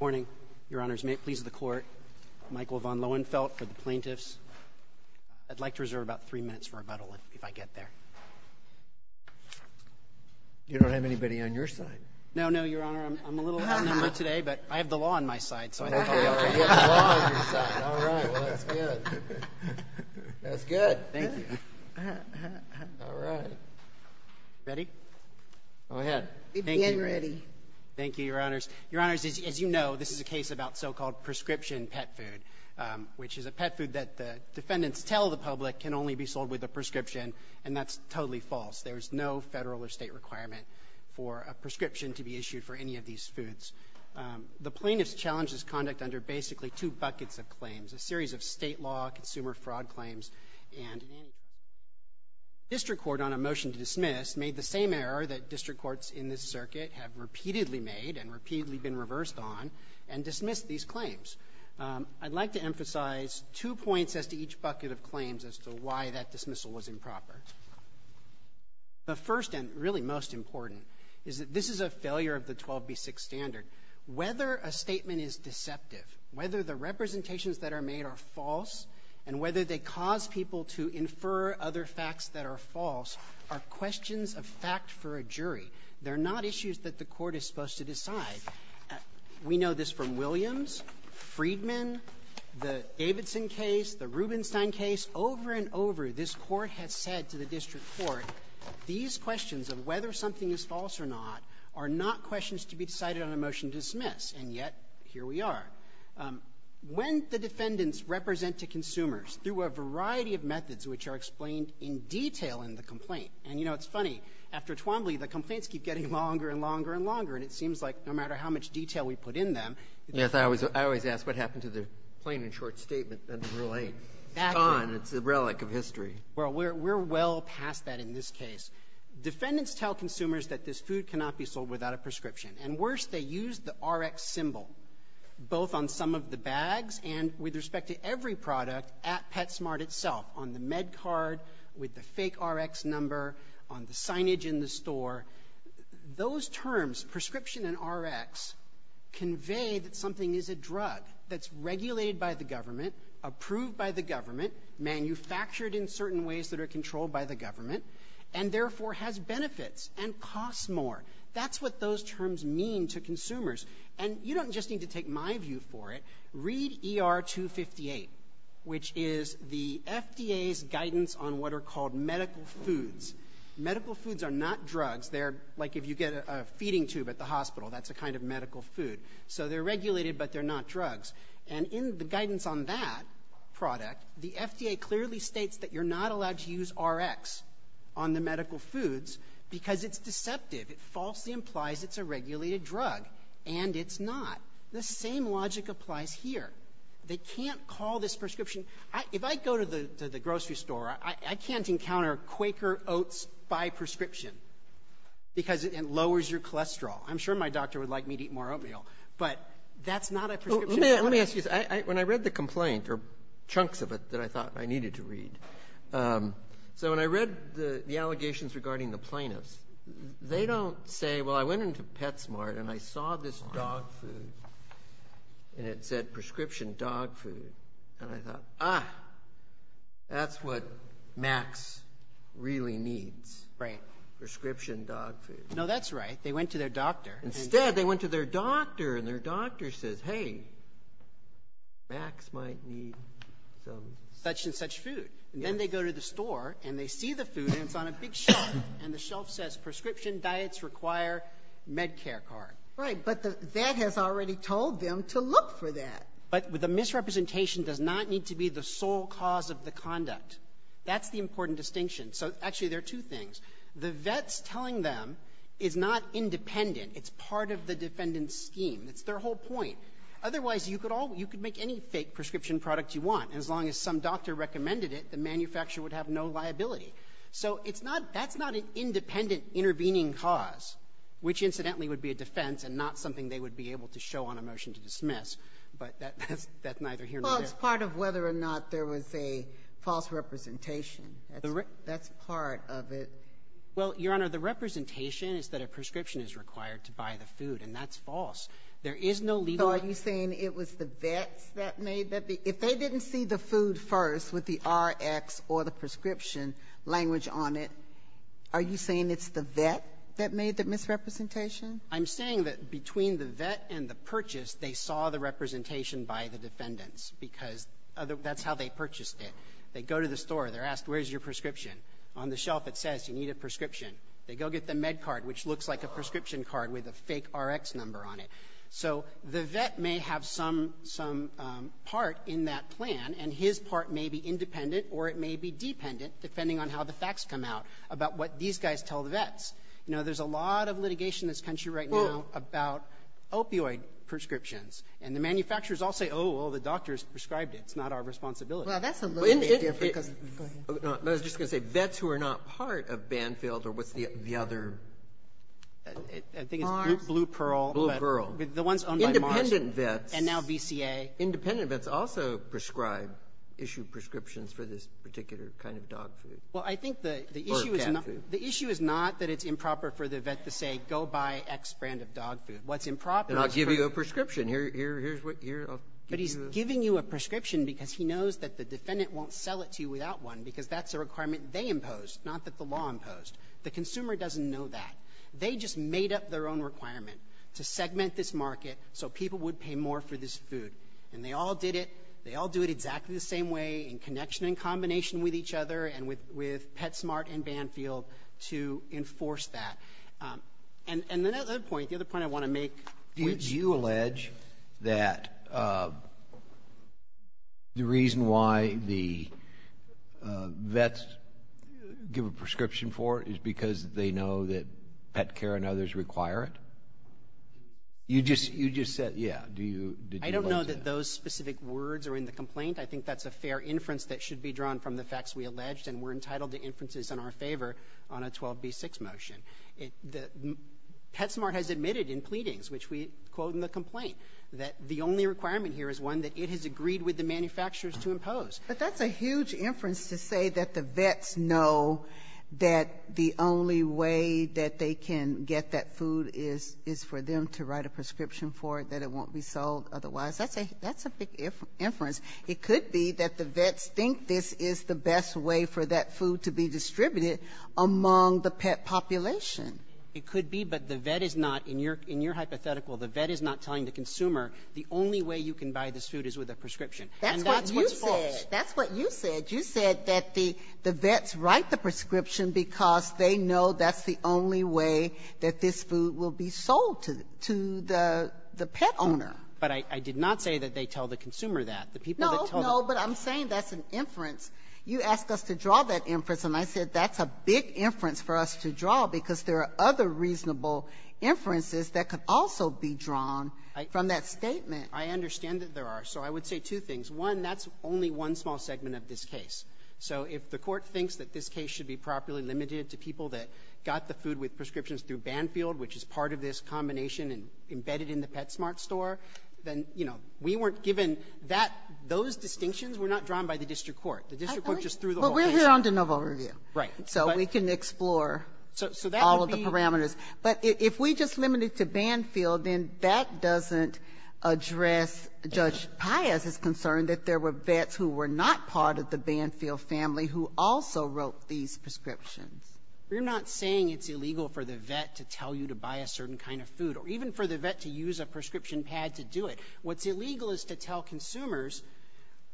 I would like to reserve about three minutes for a rebuttal if I get there. You don't have anybody on your side? No, Your Honor. I'm a little outnumbered today, but I have the law on my side, so I think I'll be all right. You have the law on your side. All right. Well, that's good. That's good. Thank you. All right. Ready? Go ahead. We're getting ready. Thank you. Thank you, Your Honors. Your Honors, as you know, this is a case about so-called prescription pet food, which is a pet food that the defendants tell the public can only be sold with a prescription, and that's totally false. There is no Federal or State requirement for a prescription to be issued for any of these foods. The plaintiff's challenge is conduct under basically two buckets of claims, a series of State law, consumer fraud claims, and in any case, the district court, on a motion to dismiss, made the same error that district courts in this circuit have repeatedly made and repeatedly been reversed on and dismissed these claims. I'd like to emphasize two points as to each bucket of claims as to why that dismissal was improper. The first and really most important is that this is a failure of the 12b6 standard. Whether a statement is deceptive, whether the representations that are made are false, and whether they cause people to infer other facts that are false are questions of fact for a jury. They're not issues that the Court is supposed to decide. We know this from Williams, Friedman, the Davidson case, the Rubenstein case. Over and over, this Court has said to the district court, these questions of whether something is false or not are not questions to be decided on a motion to dismiss, and yet, here we are. When the defendants represent to consumers through a variety of methods which are explained in detail in the complaint, and, you know, it's funny, after Twombly, the complaints keep getting longer and longer and longer, and it seems like no matter how much detail we put in them they're going to be the same. Breyer. I always ask what happened to the plain and short statement under Rule 8? Gone. It's a relic of history. Well, we're well past that in this case. Defendants tell consumers that this food cannot be sold without a prescription. And worse, they use the Rx symbol, both on some of the bags and with respect to every product at PetSmart itself, on the MedCard, with the fake Rx number, on the signage in the store. Those terms, prescription and Rx, convey that something is a drug that's regulated by the government, approved by the government, manufactured in certain ways that are controlled by the government, and therefore has benefits and costs more. That's what those terms mean to consumers. And you don't just need to take my view for it. Read ER 258, which is the FDA's guidance on what are called medical foods. Medical foods are not drugs. They're like if you get a feeding tube at the hospital, that's a kind of medical food. So they're regulated, but they're not drugs. And in the guidance on that product, the FDA clearly states that you're not allowed to use Rx on the medical foods because it's deceptive. It falsely implies it's a regulated drug, and it's not. The same logic applies here. They can't call this prescription. If I go to the grocery store, I can't encounter Quaker Oats by prescription because it lowers your cholesterol. I'm sure my doctor would like me to eat more oatmeal, but that's not a prescription. Let me ask you this. When I read the complaint, or chunks of it that I thought I needed to read, so when I read the allegations regarding the plaintiffs, they don't say, well, I went into PetSmart, and I saw this dog food, and it said prescription dog food. And I thought, ah, that's what Max really needs. Right. Prescription dog food. No, that's right. They went to their doctor. Instead, they went to their doctor, and their doctor says, hey, Max might need some. Such and such food. And then they go to the store, and they see the food, and it's on a big shelf. And the shelf says, prescription diets require MedCare card. Right, but the vet has already told them to look for that. But the misrepresentation does not need to be the sole cause of the conduct. That's the important distinction. So actually, there are two things. The vet's telling them is not independent. It's part of the defendant's scheme. That's their whole point. Otherwise, you could all you could make any fake prescription product you want. As long as some doctor recommended it, the manufacturer would have no liability. So it's not that's not an independent intervening cause, which incidentally would be a defense and not something they would be able to show on a motion to dismiss. But that's neither here nor there. Well, it's part of whether or not there was a false representation. That's part of it. Well, Your Honor, the representation is that a prescription is required to buy the food, and that's false. There is no legal ---- So are you saying it was the vets that made that? If they didn't see the food first with the Rx or the prescription language on it, are you saying it's the vet that made the misrepresentation? I'm saying that between the vet and the purchase, they saw the representation by the defendants, because that's how they purchased it. They go to the store. They're asked, where's your prescription? On the shelf, it says, you need a prescription. They go get the med card, which looks like a prescription card with a fake Rx number on it. So the vet may have some part in that plan, and his part may be independent or it may be dependent, depending on how the facts come out, about what these guys tell the vets. You know, there's a lot of litigation in this country right now about opioid prescriptions. And the manufacturers all say, oh, well, the doctors prescribed it. It's not our responsibility. Well, that's a little different because of the ---- No, I was just going to say, vets who are not part of Banfield or what's the other ---- I think it's Blue Pearl. Blue Pearl. The ones owned by Marsh. Independent vets. And now VCA. Independent vets also prescribe, issue prescriptions for this particular kind of dog food. Well, I think the issue is not that it's improper for the vet to say, go buy X brand of dog food. What's improper is ---- Then I'll give you a prescription. Here's what you're ---- But he's giving you a prescription because he knows that the defendant won't sell it to you without one because that's a requirement they imposed, not that the law imposed. The consumer doesn't know that. They just made up their own requirement to segment this market so people would pay more for this food. And they all did it. They all do it exactly the same way in connection and combination with each other and with PetSmart and Banfield to enforce that. And another point, the other point I want to make ---- Did you allege that the reason why the vets give a prescription for it is because they know that pet care and others require it? You just said, yeah. Did you allege that? I don't know that those specific words are in the complaint. I think that's a fair inference that should be drawn from the facts we alleged. And we're entitled to inferences in our favor on a 12B6 motion. PetSmart has admitted in pleadings, which we quote in the complaint, that the only requirement here is one that it has agreed with the manufacturers to impose. But that's a huge inference to say that the vets know that the only way that they can get that food is for them to write a prescription for it, that it won't be sold otherwise. That's a big inference. It could be that the vets think this is the best way for that food to be distributed among the pet population. It could be, but the vet is not. In your hypothetical, the vet is not telling the consumer, the only way you can buy this food is with a prescription. And that's what's false. That's what you said. You said that the vets write the prescription because they know that's the only way that this food will be sold to the pet owner. But I did not say that they tell the consumer that. The people that tell them. No, but I'm saying that's an inference. You asked us to draw that inference, and I said that's a big inference for us to draw because there are other reasonable inferences that could also be drawn from that statement. I understand that there are. So I would say two things. One, that's only one small segment of this case. So if the Court thinks that this case should be properly limited to people that got the food with prescriptions through Banfield, which is part of this combination embedded in the PetSmart store, then, you know, we weren't given that. Those distinctions were not drawn by the district court. The district court just threw the whole thing out. But we're here on de novo review. Right. So we can explore all of the parameters. But if we just limit it to Banfield, then that doesn't address Judge Payas' concern that there were vets who were not part of the Banfield family who also wrote these prescriptions. You're not saying it's illegal for the vet to tell you to buy a certain kind of food or even for the vet to use a prescription pad to do it. What's illegal is to tell consumers,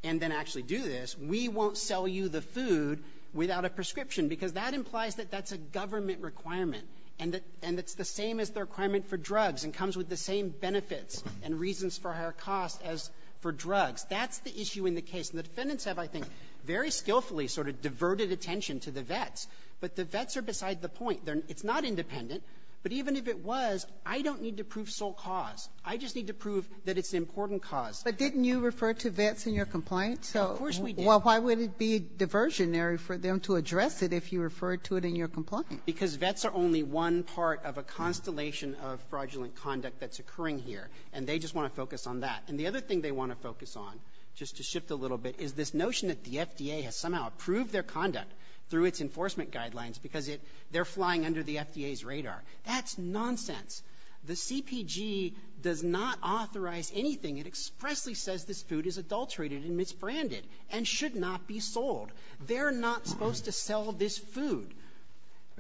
and then actually do this, we won't sell you the food without a prescription, because that implies that that's a government requirement, and it's the same as the requirement for drugs and comes with the same benefits and reasons for higher costs as for drugs. That's the issue in the case. And the defendants have, I think, very skillfully sort of diverted attention to the vets. But the vets are beside the point. It's not independent. But even if it was, I don't need to prove sole cause. I just need to prove that it's an important cause. But didn't you refer to vets in your complaint? Of course we did. Well, why would it be diversionary for them to address it if you referred to it in your complaint? Because vets are only one part of a constellation of fraudulent conduct that's occurring here, and they just want to focus on that. And the other thing they want to focus on, just to shift a little bit, is this notion that the FDA has somehow approved their conduct through its enforcement guidelines because they're flying under the FDA's radar. That's nonsense. The CPG does not authorize anything. It expressly says this food is adulterated and misbranded and should not be sold. They're not supposed to sell this food.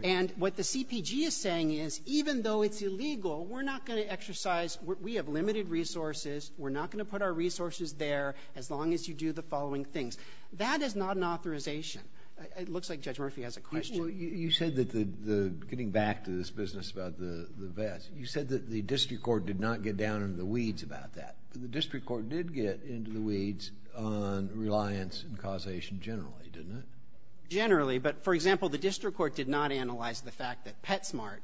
And what the CPG is saying is, even though it's illegal, we're not going to exercise we have limited resources. We're not going to put our resources there as long as you do the following things. That is not an authorization. It looks like Judge Murphy has a question. Well, you said that the getting back to this business about the vets, you said that the district court did not get down in the weeds about that. The district court did get into the weeds on reliance and causation generally, didn't it? Generally, but, for example, the district court did not analyze the fact that PetSmart,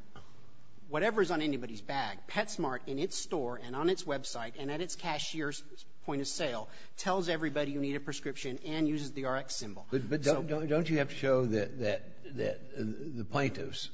whatever is on anybody's bag, PetSmart, in its store and on its website and at its cashier's point of sale, tells everybody you need a prescription and uses the Rx symbol. But don't you have to show that the plaintiffs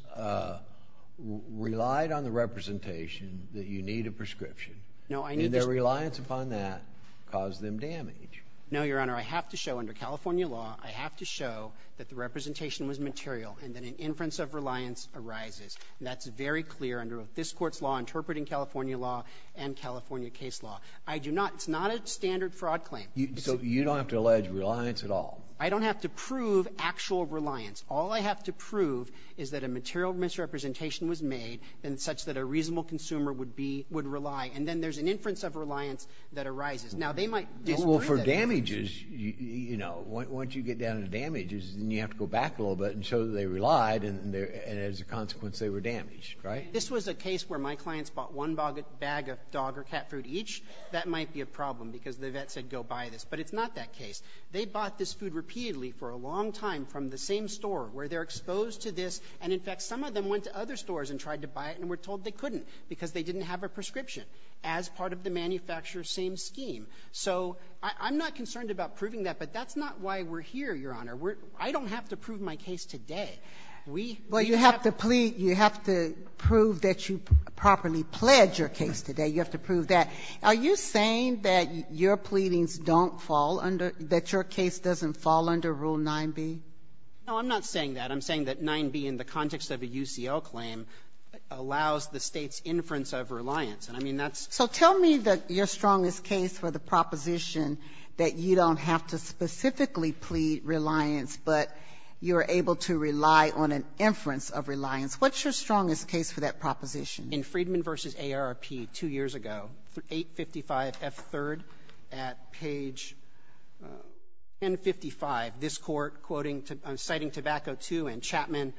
relied on the representation that you need a prescription, and their reliance upon that caused them damage? No, Your Honor. I have to show under California law, I have to show that the representation was material and that an inference of reliance arises. And that's very clear under this Court's law, interpreting California law and California case law. I do not. It's not a standard fraud claim. So you don't have to allege reliance at all? I don't have to prove actual reliance. All I have to prove is that a material misrepresentation was made and such that a reasonable consumer would be — would rely. And then there's an inference of reliance that arises. Now, they might disagree that it happens. Well, for damages, you know, once you get down to damages, then you have to go back a little bit and show that they relied, and as a consequence, they were damaged, right? This was a case where my clients bought one bag of dog or cat food each. That might be a problem because the vet said go buy this. But it's not that case. They bought this food repeatedly for a long time from the same store where they're exposed to this. And, in fact, some of them went to other stores and tried to buy it and were told they couldn't because they didn't have a prescription as part of the manufacturer's same scheme. So I'm not concerned about proving that, but that's not why we're here, Your Honor. We're — I don't have to prove my case today. We have to prove that you properly pledged your case today. You have to prove that. Are you saying that your pleadings don't fall under — that your case doesn't fall under Rule 9b? No, I'm not saying that. I'm saying that 9b in the context of a UCL claim allows the State's inference of reliance. And I mean, that's — So tell me your strongest case for the proposition that you don't have to specifically plead reliance, but you're able to rely on an inference of reliance. What's your strongest case for that proposition? In Friedman v. AARP two years ago, 855f3rd at page 1055, this Court, citing Tobacco II and Chapman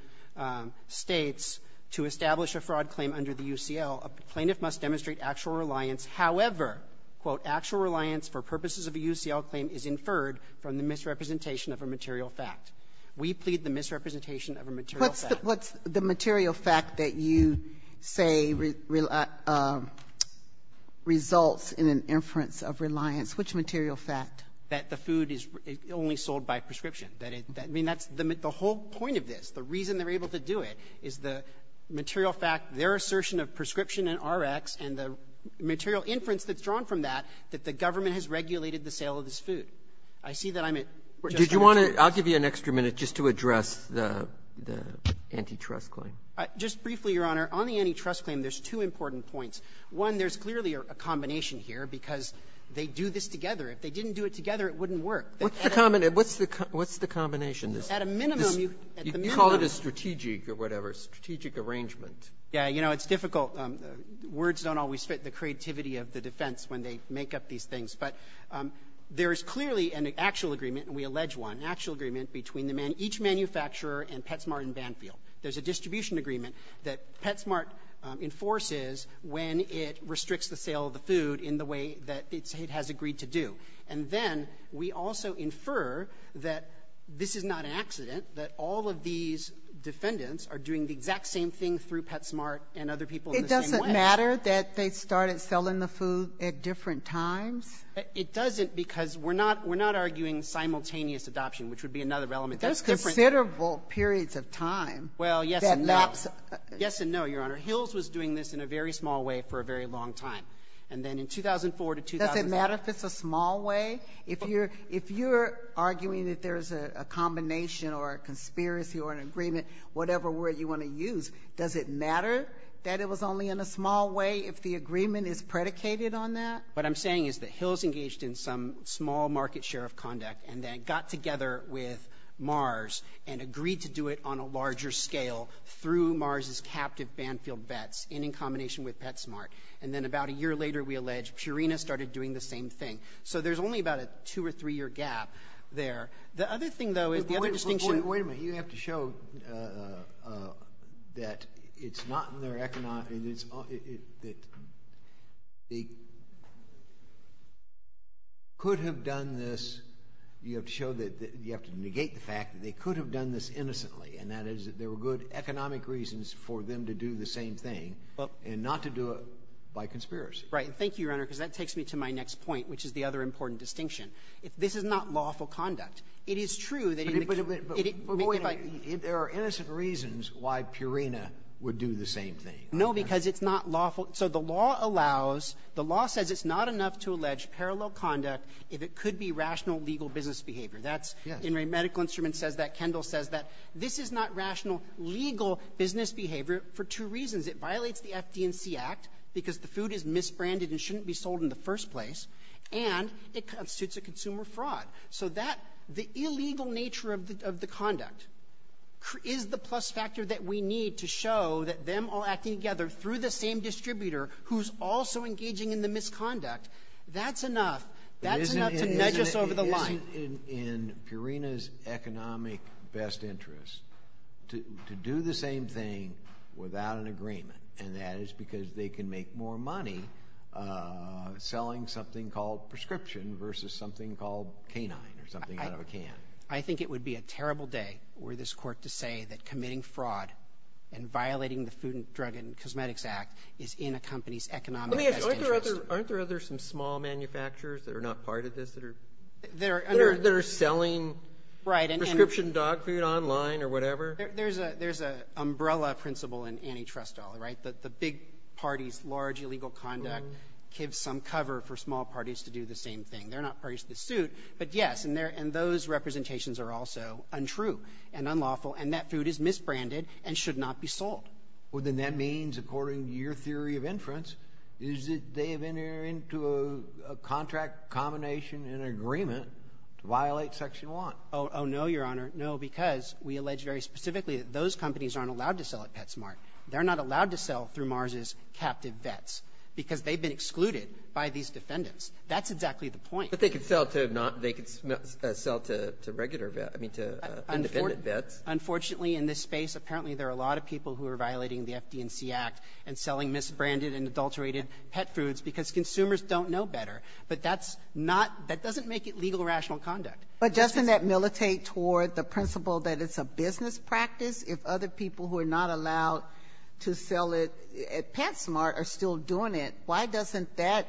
States, to establish a fraud claim under the UCL, a plaintiff must demonstrate actual reliance. However, quote, actual reliance for purposes of a UCL claim is inferred from the misrepresentation of a material fact. We plead the misrepresentation of a material fact. What's the material fact that you say results in an inference of reliance? Which material fact? That the food is only sold by prescription. I mean, that's the whole point of this. The reason they're able to do it is the material fact, their assertion of prescription in Rx, and the material inference that's drawn from that, that the government has regulated the sale of this food. I see that I'm at just over two minutes. Breyer, I'll give you an extra minute just to address the antitrust claim. Just briefly, Your Honor, on the antitrust claim, there's two important points. One, there's clearly a combination here, because they do this together. If they didn't do it together, it wouldn't work. What's the combination? At a minimum, you call it a strategic or whatever, strategic arrangement. Yeah. You know, it's difficult. Words don't always fit the creativity of the defense when they make up these things. But there is clearly an actual agreement, and we allege one, an actual agreement between each manufacturer and Petsmart and Banfield. There's a distribution agreement that Petsmart enforces when it restricts the sale of the food in the way that it has agreed to do. And then we also infer that this is not an accident, that all of these defendants are doing the exact same thing through Petsmart and other people in the same way. Does it matter that they started selling the food at different times? It doesn't, because we're not arguing simultaneous adoption, which would be another element. There's different periods of time. Well, yes and no. Yes and no, Your Honor. Hills was doing this in a very small way for a very long time. And then in 2004 to 2005 — Does it matter if it's a small way? If you're arguing that there's a combination or a conspiracy or an agreement, whatever word you want to use, does it matter that it was only in a small way if the agreement is predicated on that? What I'm saying is that Hills engaged in some small market share of conduct and then got together with Mars and agreed to do it on a larger scale through Mars' captive Banfield vets in combination with Petsmart. And then about a year later, we allege Purina started doing the same thing. So there's only about a two- or three-year gap there. The other thing, though, is the other distinction —— that it's not in their — that they could have done this — you have to show that — you have to negate the fact that they could have done this innocently, and that is that there were good economic reasons for them to do the same thing and not to do it by conspiracy. Right. And thank you, Your Honor, because that takes me to my next point, which is the other important distinction. If this is not lawful conduct, it is true that — But wait a minute. There are innocent reasons why Purina would do the same thing. No, because it's not lawful. So the law allows — the law says it's not enough to allege parallel conduct if it could be rational legal business behavior. That's — Yes. And my medical instrument says that. Kendall says that. This is not rational legal business behavior for two reasons. It violates the FD&C Act because the food is misbranded and shouldn't be sold in the first place, and it constitutes a consumer fraud. So that — the illegal nature of the conduct is the plus factor that we need to show that them all acting together through the same distributor who's also engaging in the misconduct, that's enough — that's enough to nudge us over the line. Isn't in Purina's economic best interest to do the same thing without an agreement, and that is because they can make more money selling something called prescription versus something called canine or something out of a can? I think it would be a terrible day were this Court to say that committing fraud and violating the Food and Drug and Cosmetics Act is in a company's economic best interest. Aren't there other — aren't there other small manufacturers that are not part of this that are — that are selling prescription dog food online or whatever? There's a — there's an umbrella principle in antitrust law, right, that the big parties' large illegal conduct gives some cover for small parties to do the same thing. They're not part of this suit, but, yes, and those representations are also untrue and unlawful, and that food is misbranded and should not be sold. Well, then that means, according to your theory of inference, is that they have entered into a contract combination in agreement to violate Section 1. Oh, no, Your Honor. No, because we allege very specifically that those companies aren't allowed to sell at PetSmart. They're not allowed to sell through Mars' captive vets because they've been excluded by these defendants. That's exactly the point. But they could sell to — they could sell to regular vets — I mean, to independent vets. Unfortunately, in this space, apparently there are a lot of people who are violating the FD&C Act and selling misbranded and adulterated pet foods because consumers don't know better. But that's not — that doesn't make it legal rational conduct. But doesn't that militate toward the principle that it's a business practice if other people who are not allowed to sell it at PetSmart are still doing it? Why doesn't that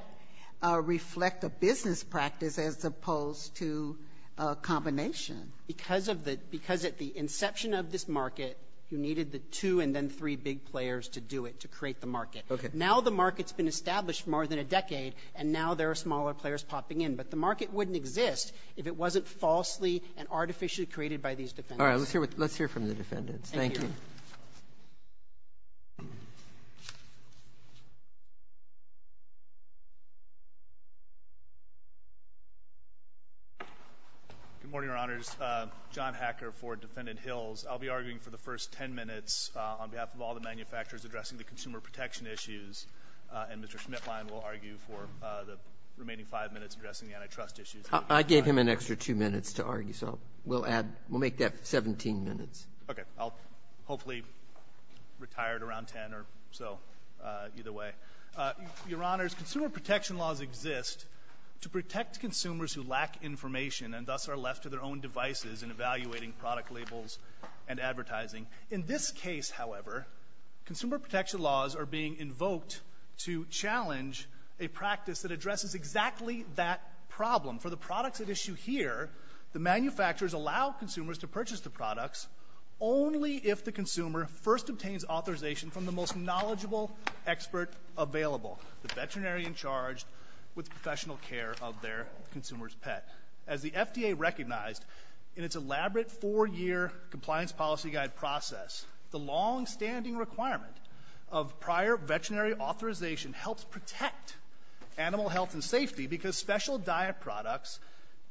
reflect a business practice as opposed to a combination? Because of the — because at the inception of this market, you needed the two and then three big players to do it, to create the market. Okay. Now the market's been established for more than a decade, and now there are smaller players popping in. But the market wouldn't exist if it wasn't falsely and artificially created by these defendants. All right. Let's hear what — let's hear from the defendants. Thank you. Thank you. Good morning, Your Honors. John Hacker for Defendant Hills. I'll be arguing for the first 10 minutes on behalf of all the manufacturers addressing the consumer protection issues, and Mr. Schmitlein will argue for the remaining 5 minutes addressing the antitrust issues. I gave him an extra 2 minutes to argue, so we'll add — we'll make that 17 minutes. Okay. I'll hopefully retire at around 10 or so, either way. Your Honors, consumer protection laws exist to protect consumers who lack information and thus are left to their own devices in evaluating product labels and advertising. In this case, however, consumer protection laws are being invoked to challenge a practice that addresses exactly that problem. The FDA recognized in its elaborate four-year compliance policy guide process the longstanding requirement of prior veterinary authorization helps protect animal health and safety because special diet products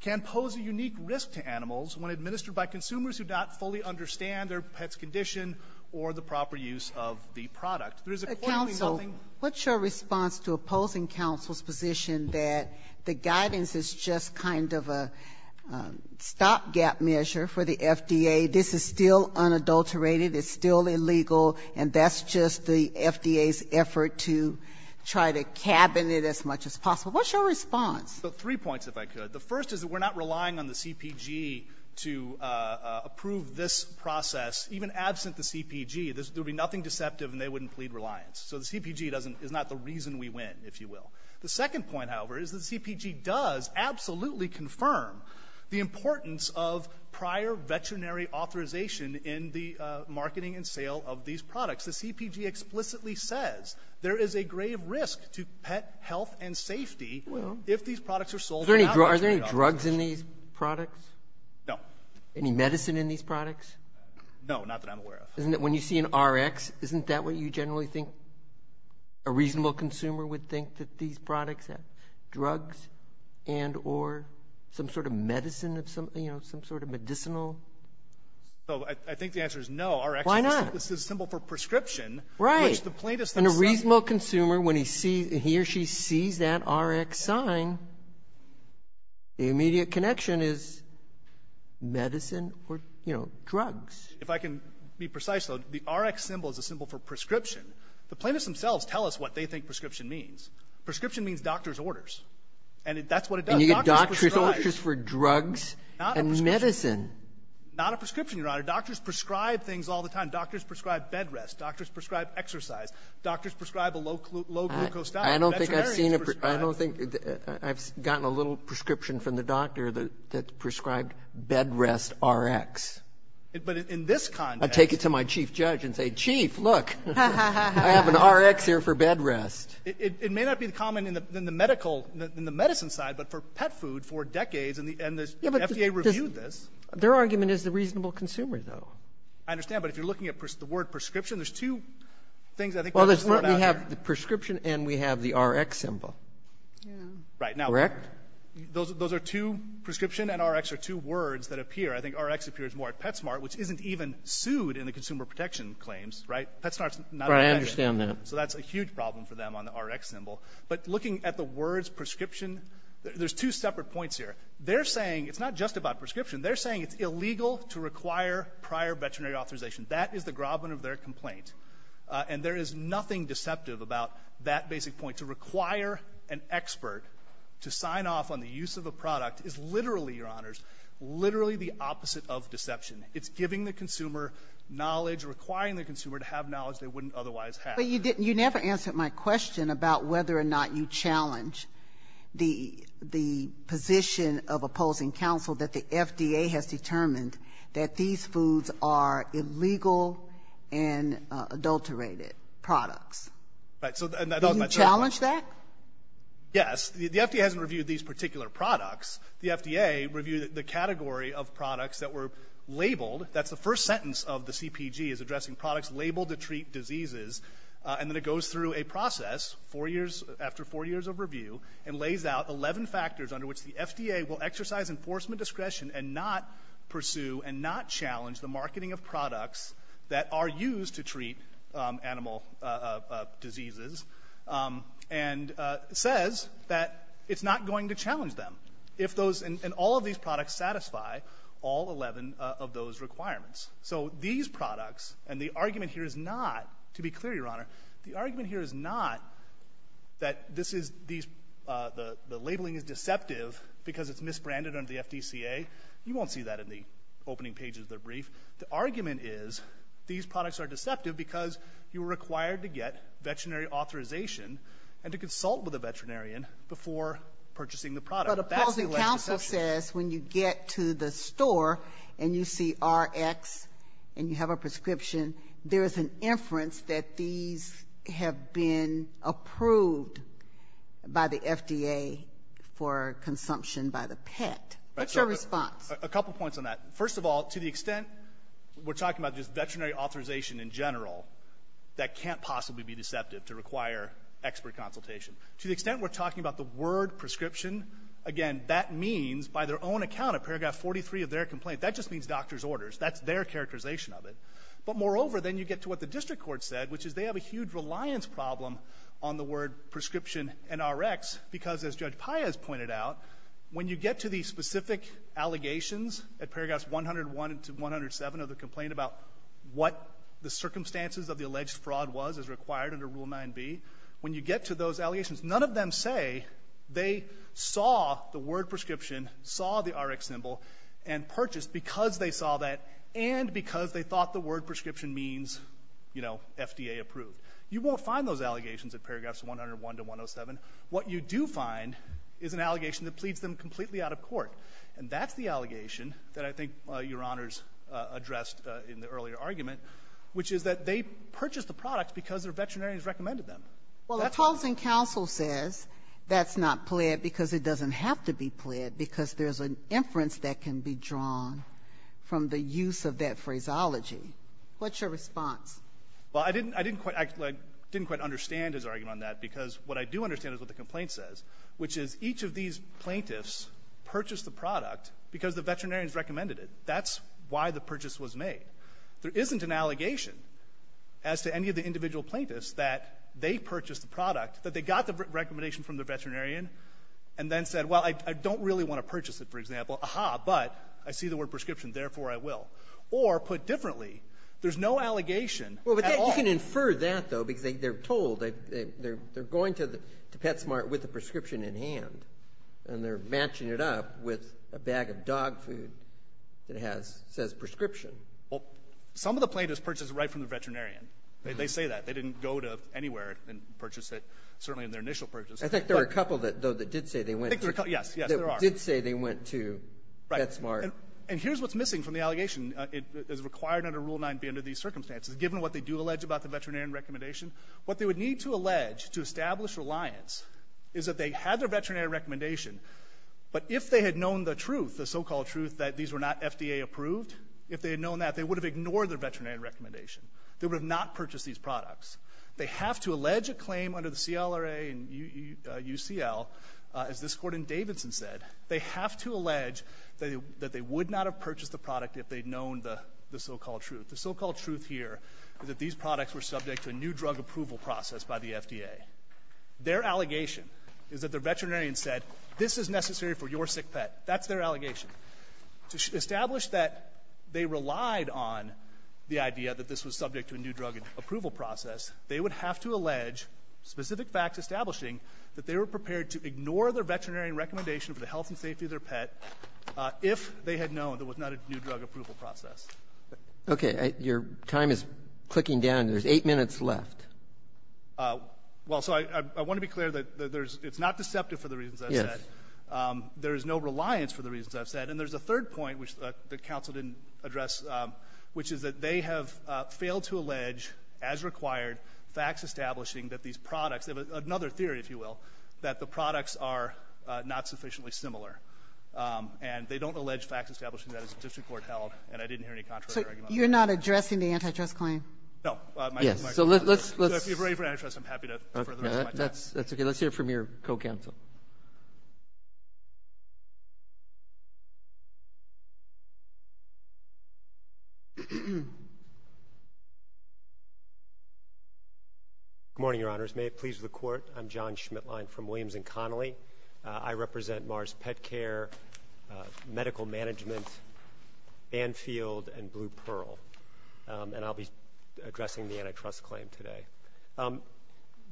can pose a unique risk to animals when administered by consumers who do not fully understand their pet's condition or the proper use of the product. There is accordingly nothing — Counsel, what's your response to opposing counsel's position that the guidance is just kind of a stopgap measure for the FDA, this is still unadulterated, it's still illegal, and that's just the FDA's effort to try to cabin it as much as possible? What's your response? Three points, if I could. The first is that we're not relying on the CPG to approve this process, even absent the CPG, there would be nothing deceptive and they wouldn't plead reliance. So the CPG is not the reason we win, if you will. The second point, however, is that the CPG does absolutely confirm the importance of prior veterinary authorization in the marketing and sale of these products. The CPG explicitly says there is a grave risk to pet health and safety if these products are sold without veterinary authorization. Are there any drugs in these products? No. Any medicine in these products? No, not that I'm aware of. Isn't it when you see an RX, isn't that what you generally think a reasonable consumer would think that these products have drugs and or some sort of medicine of some, you know, some sort of medicinal? So I think the answer is no. Why not? RX is a symbol for prescription. Right. And a reasonable consumer, when he or she sees that RX sign, the immediate connection is medicine or, you know, drugs. If I can be precise, though, the RX symbol is a symbol for prescription. The plaintiffs themselves tell us what they think prescription means. Prescription means doctor's orders. And that's what it does. And you get doctor's orders for drugs and medicine. Not a prescription, Your Honor. Doctors prescribe things all the time. Doctors prescribe bed rest. Doctors prescribe exercise. Doctors prescribe a low glucose diet. I don't think I've seen it. I don't think I've gotten a little prescription from the doctor that prescribed bed rest RX. But in this context. I take it to my chief judge and say, Chief, look, I have an RX here for bed rest. It may not be common in the medical, in the medicine side, but for pet food, for decades, and the FDA reviewed this. Their argument is the reasonable consumer, though. I understand. But if you're looking at the word prescription, there's two things I think. Well, we have the prescription and we have the RX symbol. Yeah. Right. Now. Correct? Those are two prescription and RX are two words that appear. I think RX appears more at PetSmart, which isn't even sued in the consumer protection claims. Right? PetSmart's not. Right. I understand that. So that's a huge problem for them on the RX symbol. But looking at the words prescription, there's two separate points here. They're saying it's not just about prescription. They're saying it's illegal to require prior veterinary authorization. That is the groveling of their complaint. And there is nothing deceptive about that basic point. To require an expert to sign off on the use of a product is literally, Your Honors, literally the opposite of deception. It's giving the consumer knowledge, requiring the consumer to have knowledge they wouldn't otherwise have. But you didn't. You never answered my question about whether or not you challenge the position of opposing counsel that the FDA has determined that these foods are illegal and adulterated products. Right. So that's my question. Did you challenge that? Yes. The FDA hasn't reviewed these particular products. The FDA reviewed the category of products that were labeled. That's the first sentence of the CPG, is addressing products labeled to treat diseases. And then it goes through a process four years after four years of review and lays out 11 factors under which the FDA will exercise enforcement discretion and not pursue and not challenge the marketing of products that are used to treat animal diseases and says that it's not going to challenge them if those and all of these products satisfy all 11 of those requirements. So these products, and the argument here is not, to be clear, Your Honor, the argument here is not that this is these, the labeling is deceptive because it's misbranded under the FDCA. You won't see that in the opening pages of the brief. The argument is these products are deceptive because you are required to get veterinary authorization and to consult with a veterinarian before purchasing the product. But opposing counsel says when you get to the store and you see RX and you have a prescription, there is an inference that these have been approved by the FDA for consumption by the pet. What's your response? A couple points on that. First of all, to the extent we're talking about just veterinary authorization in general, that can't possibly be deceptive to require expert consultation. To the extent we're talking about the word prescription, again, that means by their own account of paragraph 43 of their complaint, that just means doctor's credit. But moreover, then you get to what the district court said, which is they have a huge reliance problem on the word prescription and RX because, as Judge Paez pointed out, when you get to the specific allegations at paragraph 101 to 107 of the complaint about what the circumstances of the alleged fraud was as required under Rule 9b, when you get to those allegations, none of them say they saw the word prescription, saw the RX symbol, and purchased because they saw that and because they thought the word prescription means, you know, FDA approved. You won't find those allegations at paragraphs 101 to 107. What you do find is an allegation that pleads them completely out of court. And that's the allegation that I think Your Honors addressed in the earlier argument, which is that they purchased the product because their veterinarian has recommended them. Well, a closing counsel says that's not pled because it doesn't have to be pled because there's an inference that can be drawn from the use of that phraseology. What's your response? Well, I didn't quite understand his argument on that because what I do understand is what the complaint says, which is each of these plaintiffs purchased the product because the veterinarian has recommended it. That's why the purchase was made. There isn't an allegation as to any of the individual plaintiffs that they purchased the product, that they got the recommendation from the veterinarian and then said, well, I don't really want to purchase it, for example. Aha, but I see the word prescription, therefore I will. Or put differently, there's no allegation at all. Well, but you can infer that, though, because they're told they're going to PetSmart with the prescription in hand and they're matching it up with a bag of dog food that says prescription. Well, some of the plaintiffs purchased it right from the veterinarian. They say that. They didn't go to anywhere and purchase it certainly in their initial purchase. I think there are a couple, though, that did say they went to PetSmart. And here's what's missing from the allegation. It is required under Rule 9B under these circumstances, given what they do allege about the veterinarian recommendation. What they would need to allege to establish reliance is that they had their veterinarian recommendation, but if they had known the truth, the so-called truth that these were not FDA approved, if they had known that, they would have ignored their veterinarian recommendation. They would have not purchased these products. They have to allege a claim under the CLRA and UCL, as this court in Davidson said, they have to allege that they would not have purchased the product if they had known the so-called truth. The so-called truth here is that these products were subject to a new drug approval process by the FDA. Their allegation is that the veterinarian said, this is necessary for your sick pet. That's their allegation. To establish that they relied on the idea that this was subject to a new drug approval process, they would have to allege specific facts establishing that they were prepared to ignore their veterinarian recommendation for the health and safety of their pet if they had known there was not a new drug approval process. Okay. Your time is clicking down. There's eight minutes left. Well, so I want to be clear that there's not deceptive for the reasons I've said. Yes. There is no reliance for the reasons I've said. And there's a third point which the counsel didn't address, which is that they have been able to allege, as required, facts establishing that these products, another theory, if you will, that the products are not sufficiently similar. And they don't allege facts establishing that as the district court held, and I didn't hear any contrary arguments. So you're not addressing the antitrust claim? No. So if you're ready for antitrust, I'm happy to further my test. Okay. That's okay. Let's hear from your co-counsel. Good morning, Your Honors. May it please the Court. I'm John Schmitlein from Williams & Connolly. I represent Mars Pet Care, Medical Management, Banfield, and Blue Pearl. And I'll be addressing the antitrust claim today. There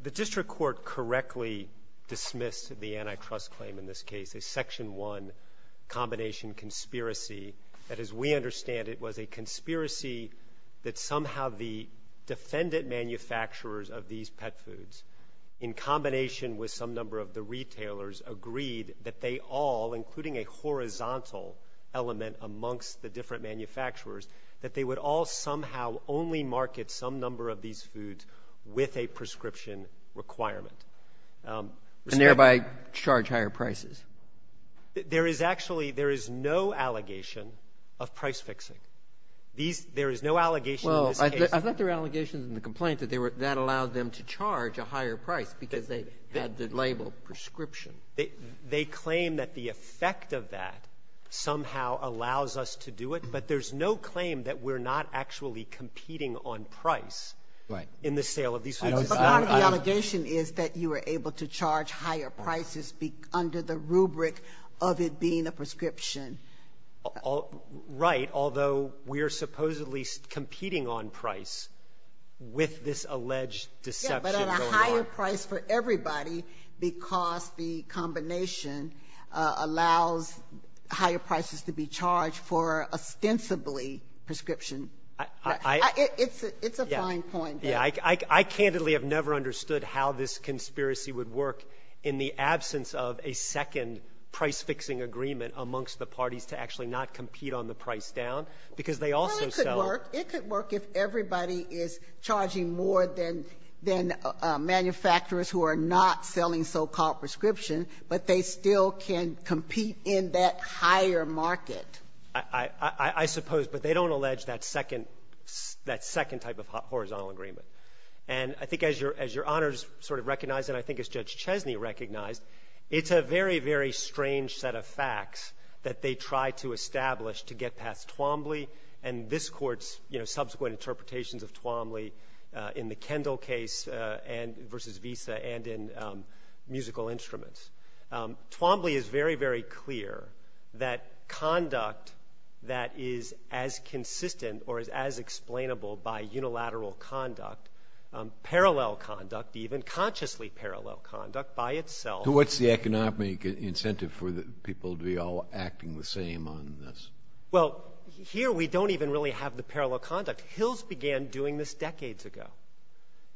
is no reliance for the reasons I've said. The antitrust claim in this case is Section 1, combination conspiracy. That is, we understand it was a conspiracy that somehow the defendant manufacturers of these pet foods, in combination with some number of the retailers, agreed that they all, including a horizontal element amongst the different manufacturers, that they would all somehow only market some number of these foods with a prescription requirement. And thereby charge higher prices. There is actually no allegation of price fixing. There is no allegation in this case. Well, I thought there were allegations in the complaint that that allowed them to charge a higher price because they had the label prescription. They claim that the effect of that somehow allows us to do it, but there's no claim that we're not actually competing on price in the sale of these foods. But part of the allegation is that you were able to charge higher prices under the rubric of it being a prescription. Right, although we're supposedly competing on price with this alleged deception going on. Yeah, but at a higher price for everybody because the combination allows higher prices to be charged for ostensibly prescription. It's a fine point. Yeah. I candidly have never understood how this conspiracy would work in the absence of a second price-fixing agreement amongst the parties to actually not compete on the price down because they also sell. Well, it could work. It could work if everybody is charging more than manufacturers who are not selling so-called prescription, but they still can compete in that higher market. I suppose, but they don't allege that second type of horizontal agreement. And I think as Your Honors sort of recognized and I think as Judge Chesney recognized, it's a very, very strange set of facts that they try to establish to get past Twombly and this Court's subsequent interpretations of Twombly in the Kendall case versus Visa and in musical instruments. Twombly is very, very clear that conduct that is as consistent or as explainable by unilateral conduct, parallel conduct even, consciously parallel conduct by itself. What's the economic incentive for the people to be all acting the same on this? Well, here we don't even really have the parallel conduct. Hills began doing this decades ago.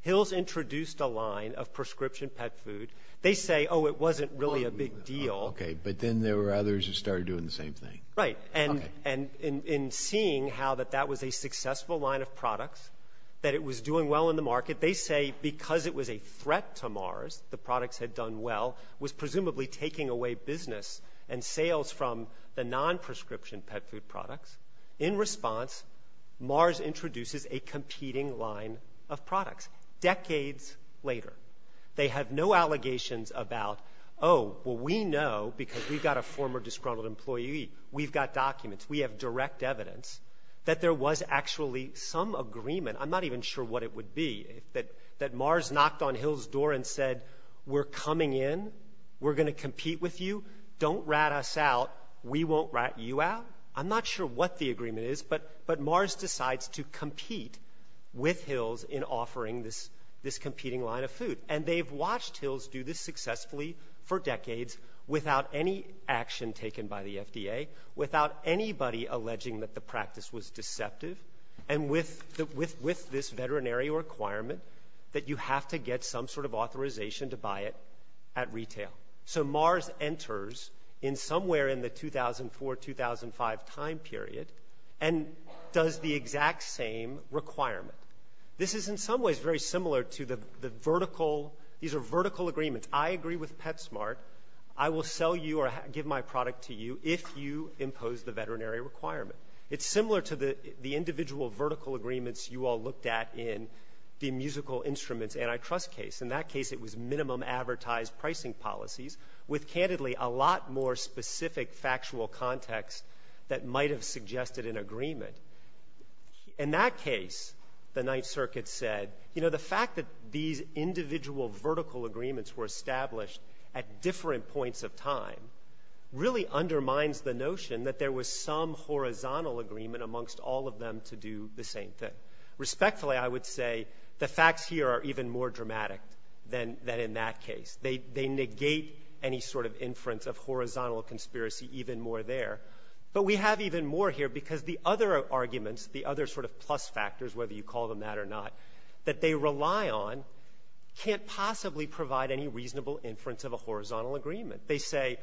Hills introduced a line of prescription pet food. They say, oh, it wasn't really a big deal. Okay, but then there were others who started doing the same thing. Right. And in seeing how that that was a successful line of products, that it was doing well in the market, they say because it was a threat to Mars, the products had done well, was presumably taking away business and sales from the non-prescription pet food products. In response, Mars introduces a competing line of products. Decades later. They have no allegations about, oh, well, we know because we've got a former disgruntled employee. We've got documents. We have direct evidence that there was actually some agreement. I'm not even sure what it would be. That Mars knocked on Hills' door and said, we're coming in. We're going to compete with you. Don't rat us out. We won't rat you out. I'm not sure what the agreement is, but Mars decides to compete with Hills in offering this competing line of food. And they've watched Hills do this successfully for decades without any action taken by the FDA, without anybody alleging that the practice was deceptive, and with this veterinary requirement that you have to get some sort of authorization to buy it at retail. So Mars enters in somewhere in the 2004-2005 time period and does the exact same requirement. This is in some ways very similar to the vertical. These are vertical agreements. I agree with PetSmart. I will sell you or give my product to you if you impose the veterinary requirement. It's similar to the individual vertical agreements you all looked at in the musical instruments antitrust case. In that case, it was minimum advertised pricing policies with, candidly, a lot more specific factual context that might have suggested an agreement. In that case, the Ninth Circuit said, you know, the fact that these individual vertical agreements were established at different points of time really undermines the notion that there was some horizontal agreement amongst all of them to do the same thing. Respectfully, I would say the facts here are even more dramatic than in that case. They negate any sort of inference of horizontal conspiracy even more there. But we have even more here because the other arguments, the other sort of plus factors, whether you call them that or not, that they rely on can't possibly provide any reasonable inference of a horizontal agreement. They say,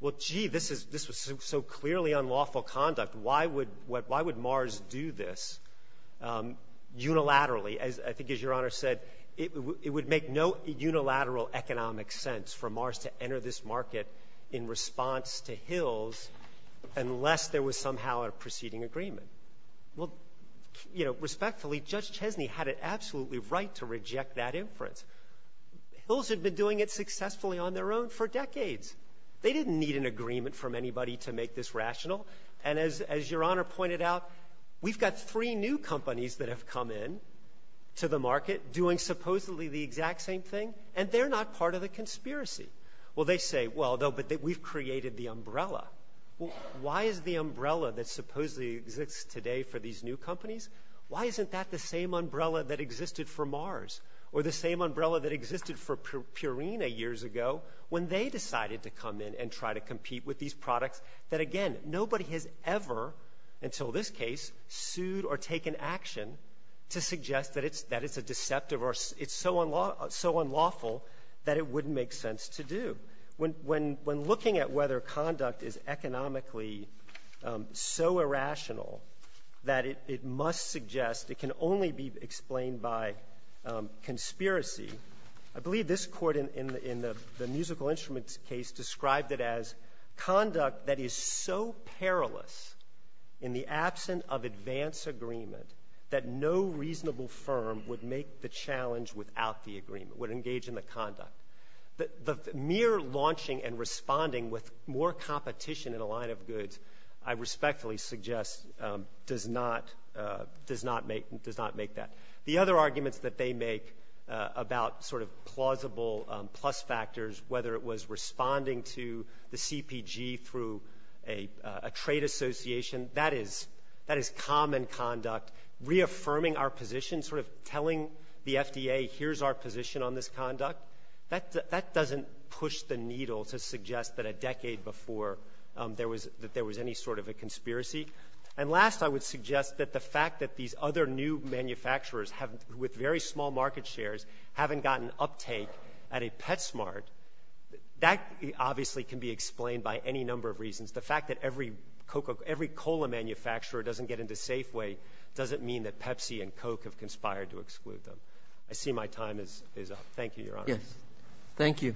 well, gee, this was so clearly unlawful conduct. Why would Mars do this unilaterally? I think, as Your Honor said, it would make no unilateral economic sense for Mars to enter this market in response to Hills unless there was somehow a proceeding agreement. Well, you know, respectfully, Judge Chesney had it absolutely right to reject that inference. Hills had been doing it successfully on their own for decades. They didn't need an agreement from anybody to make this rational. And as Your Honor pointed out, we've got three new companies that have come in to the market doing supposedly the exact same thing, and they're not part of the conspiracy. Well, they say, well, no, but we've created the umbrella. Well, why is the umbrella that supposedly exists today for these new companies, why isn't that the same umbrella that existed for Mars or the same umbrella that existed for Purina years ago when they decided to come in and try to compete with these products that, again, nobody has ever, until this case, sued or taken action to suggest that it's a deceptive or it's so unlawful that it wouldn't make sense to do. When looking at whether conduct is economically so irrational that it must suggest it can only be explained by conspiracy, I believe this court in the musical instruments case described it as conduct that is so perilous in the absence of advance agreement that no reasonable firm would make the challenge without the agreement, would engage in the conduct. The mere launching and responding with more competition in a line of goods I respectfully suggest does not, does not make that. The other arguments that they make about sort of plausible plus factors, whether it was responding to the CPG through a trade association, that is common conduct reaffirming our position, sort of telling the FDA here's our position on this conduct, that doesn't push the needle to suggest that a decade before there was any sort of a conspiracy. And last I would suggest that the fact that these other new manufacturers with very small market shares haven't gotten uptake at a Petsmart, that obviously can be explained by any number of reasons. The fact that every cola manufacturer doesn't get into Safeway doesn't mean that Pepsi and Coke have conspired to exclude them. I see my time is up. Thank you, Your Honor. Thank you.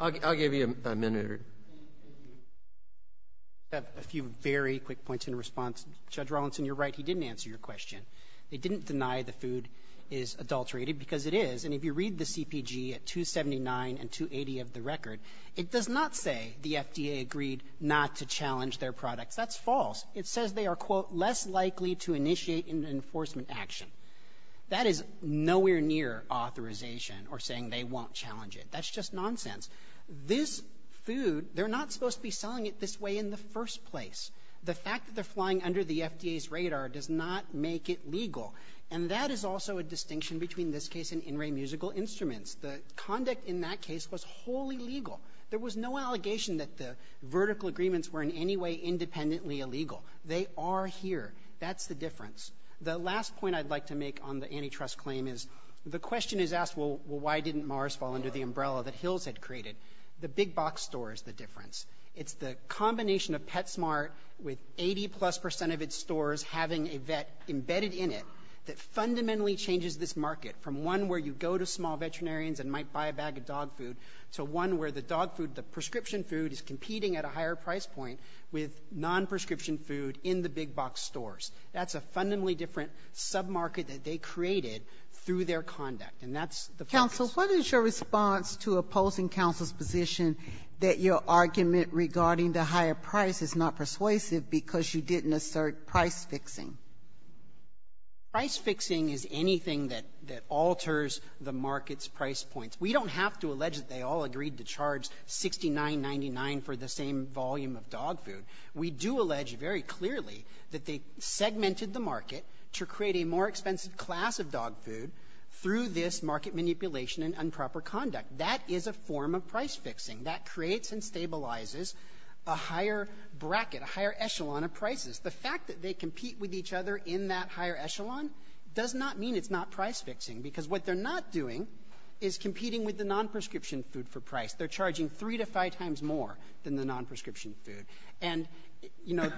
I'll give you a minute. A few very quick points in response. Judge Rawlinson, you're right. He didn't answer your question. They didn't deny the food is adulterated because it is. And if you read the CPG at 279 and 280 of the record, it does not say the FDA agreed not to challenge their products. That's false. It says they are, quote, less likely to initiate an enforcement action. That is nowhere near authorization or saying they won't challenge it. That's just nonsense. This food, they're not supposed to be selling it this way in the first place. The fact that they're flying under the FDA's radar does not make it legal. And that is also a distinction between this case and in-ray musical instruments. The conduct in that case was wholly legal. There was no allegation that the vertical agreements were in any way independently illegal. They are here. That's the difference. The last point I'd like to make on the antitrust claim is the question is asked, well, why didn't Mars fall under the umbrella that Hills had created? The big box store is the difference. It's the combination of PetSmart with 80-plus percent of its stores having a vet embedded in it that fundamentally changes this market from one where you go to small veterinarians and might buy a bag of dog food to one where the dog food, the prescription food is competing at a higher price point with non-prescription food in the big box stores. That's a fundamentally different sub-market that they created through their conduct. And that's the focus. Counsel, what is your response to opposing counsel's position that your argument regarding the higher price is not persuasive because you didn't assert price-fixing? Price-fixing is anything that alters the market's price points. We don't have to allege that they all agreed to charge $69.99 for the same volume of dog food. We do allege very clearly that they segmented the market to create a more expensive class of dog food through this market manipulation and improper conduct. That is a form of price-fixing. That creates and stabilizes a higher bracket, a higher echelon of prices. The fact that they compete with each other in that higher echelon does not mean it's not price-fixing because what they're not doing is competing with the non-prescription food for price. They're charging three to five times more than the non-prescription food. And, you know,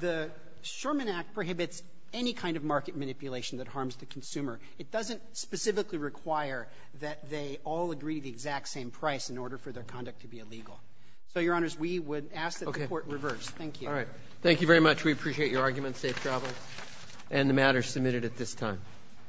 the Sherman Act prohibits any kind of market manipulation that harms the consumer. It doesn't specifically require that they all agree to the exact same price in order for their conduct to be illegal. So, Your Honors, we would ask that the Court reverse. Thank you. Thank you very much. We appreciate your argument. Safe travel. And the matter is submitted at this time.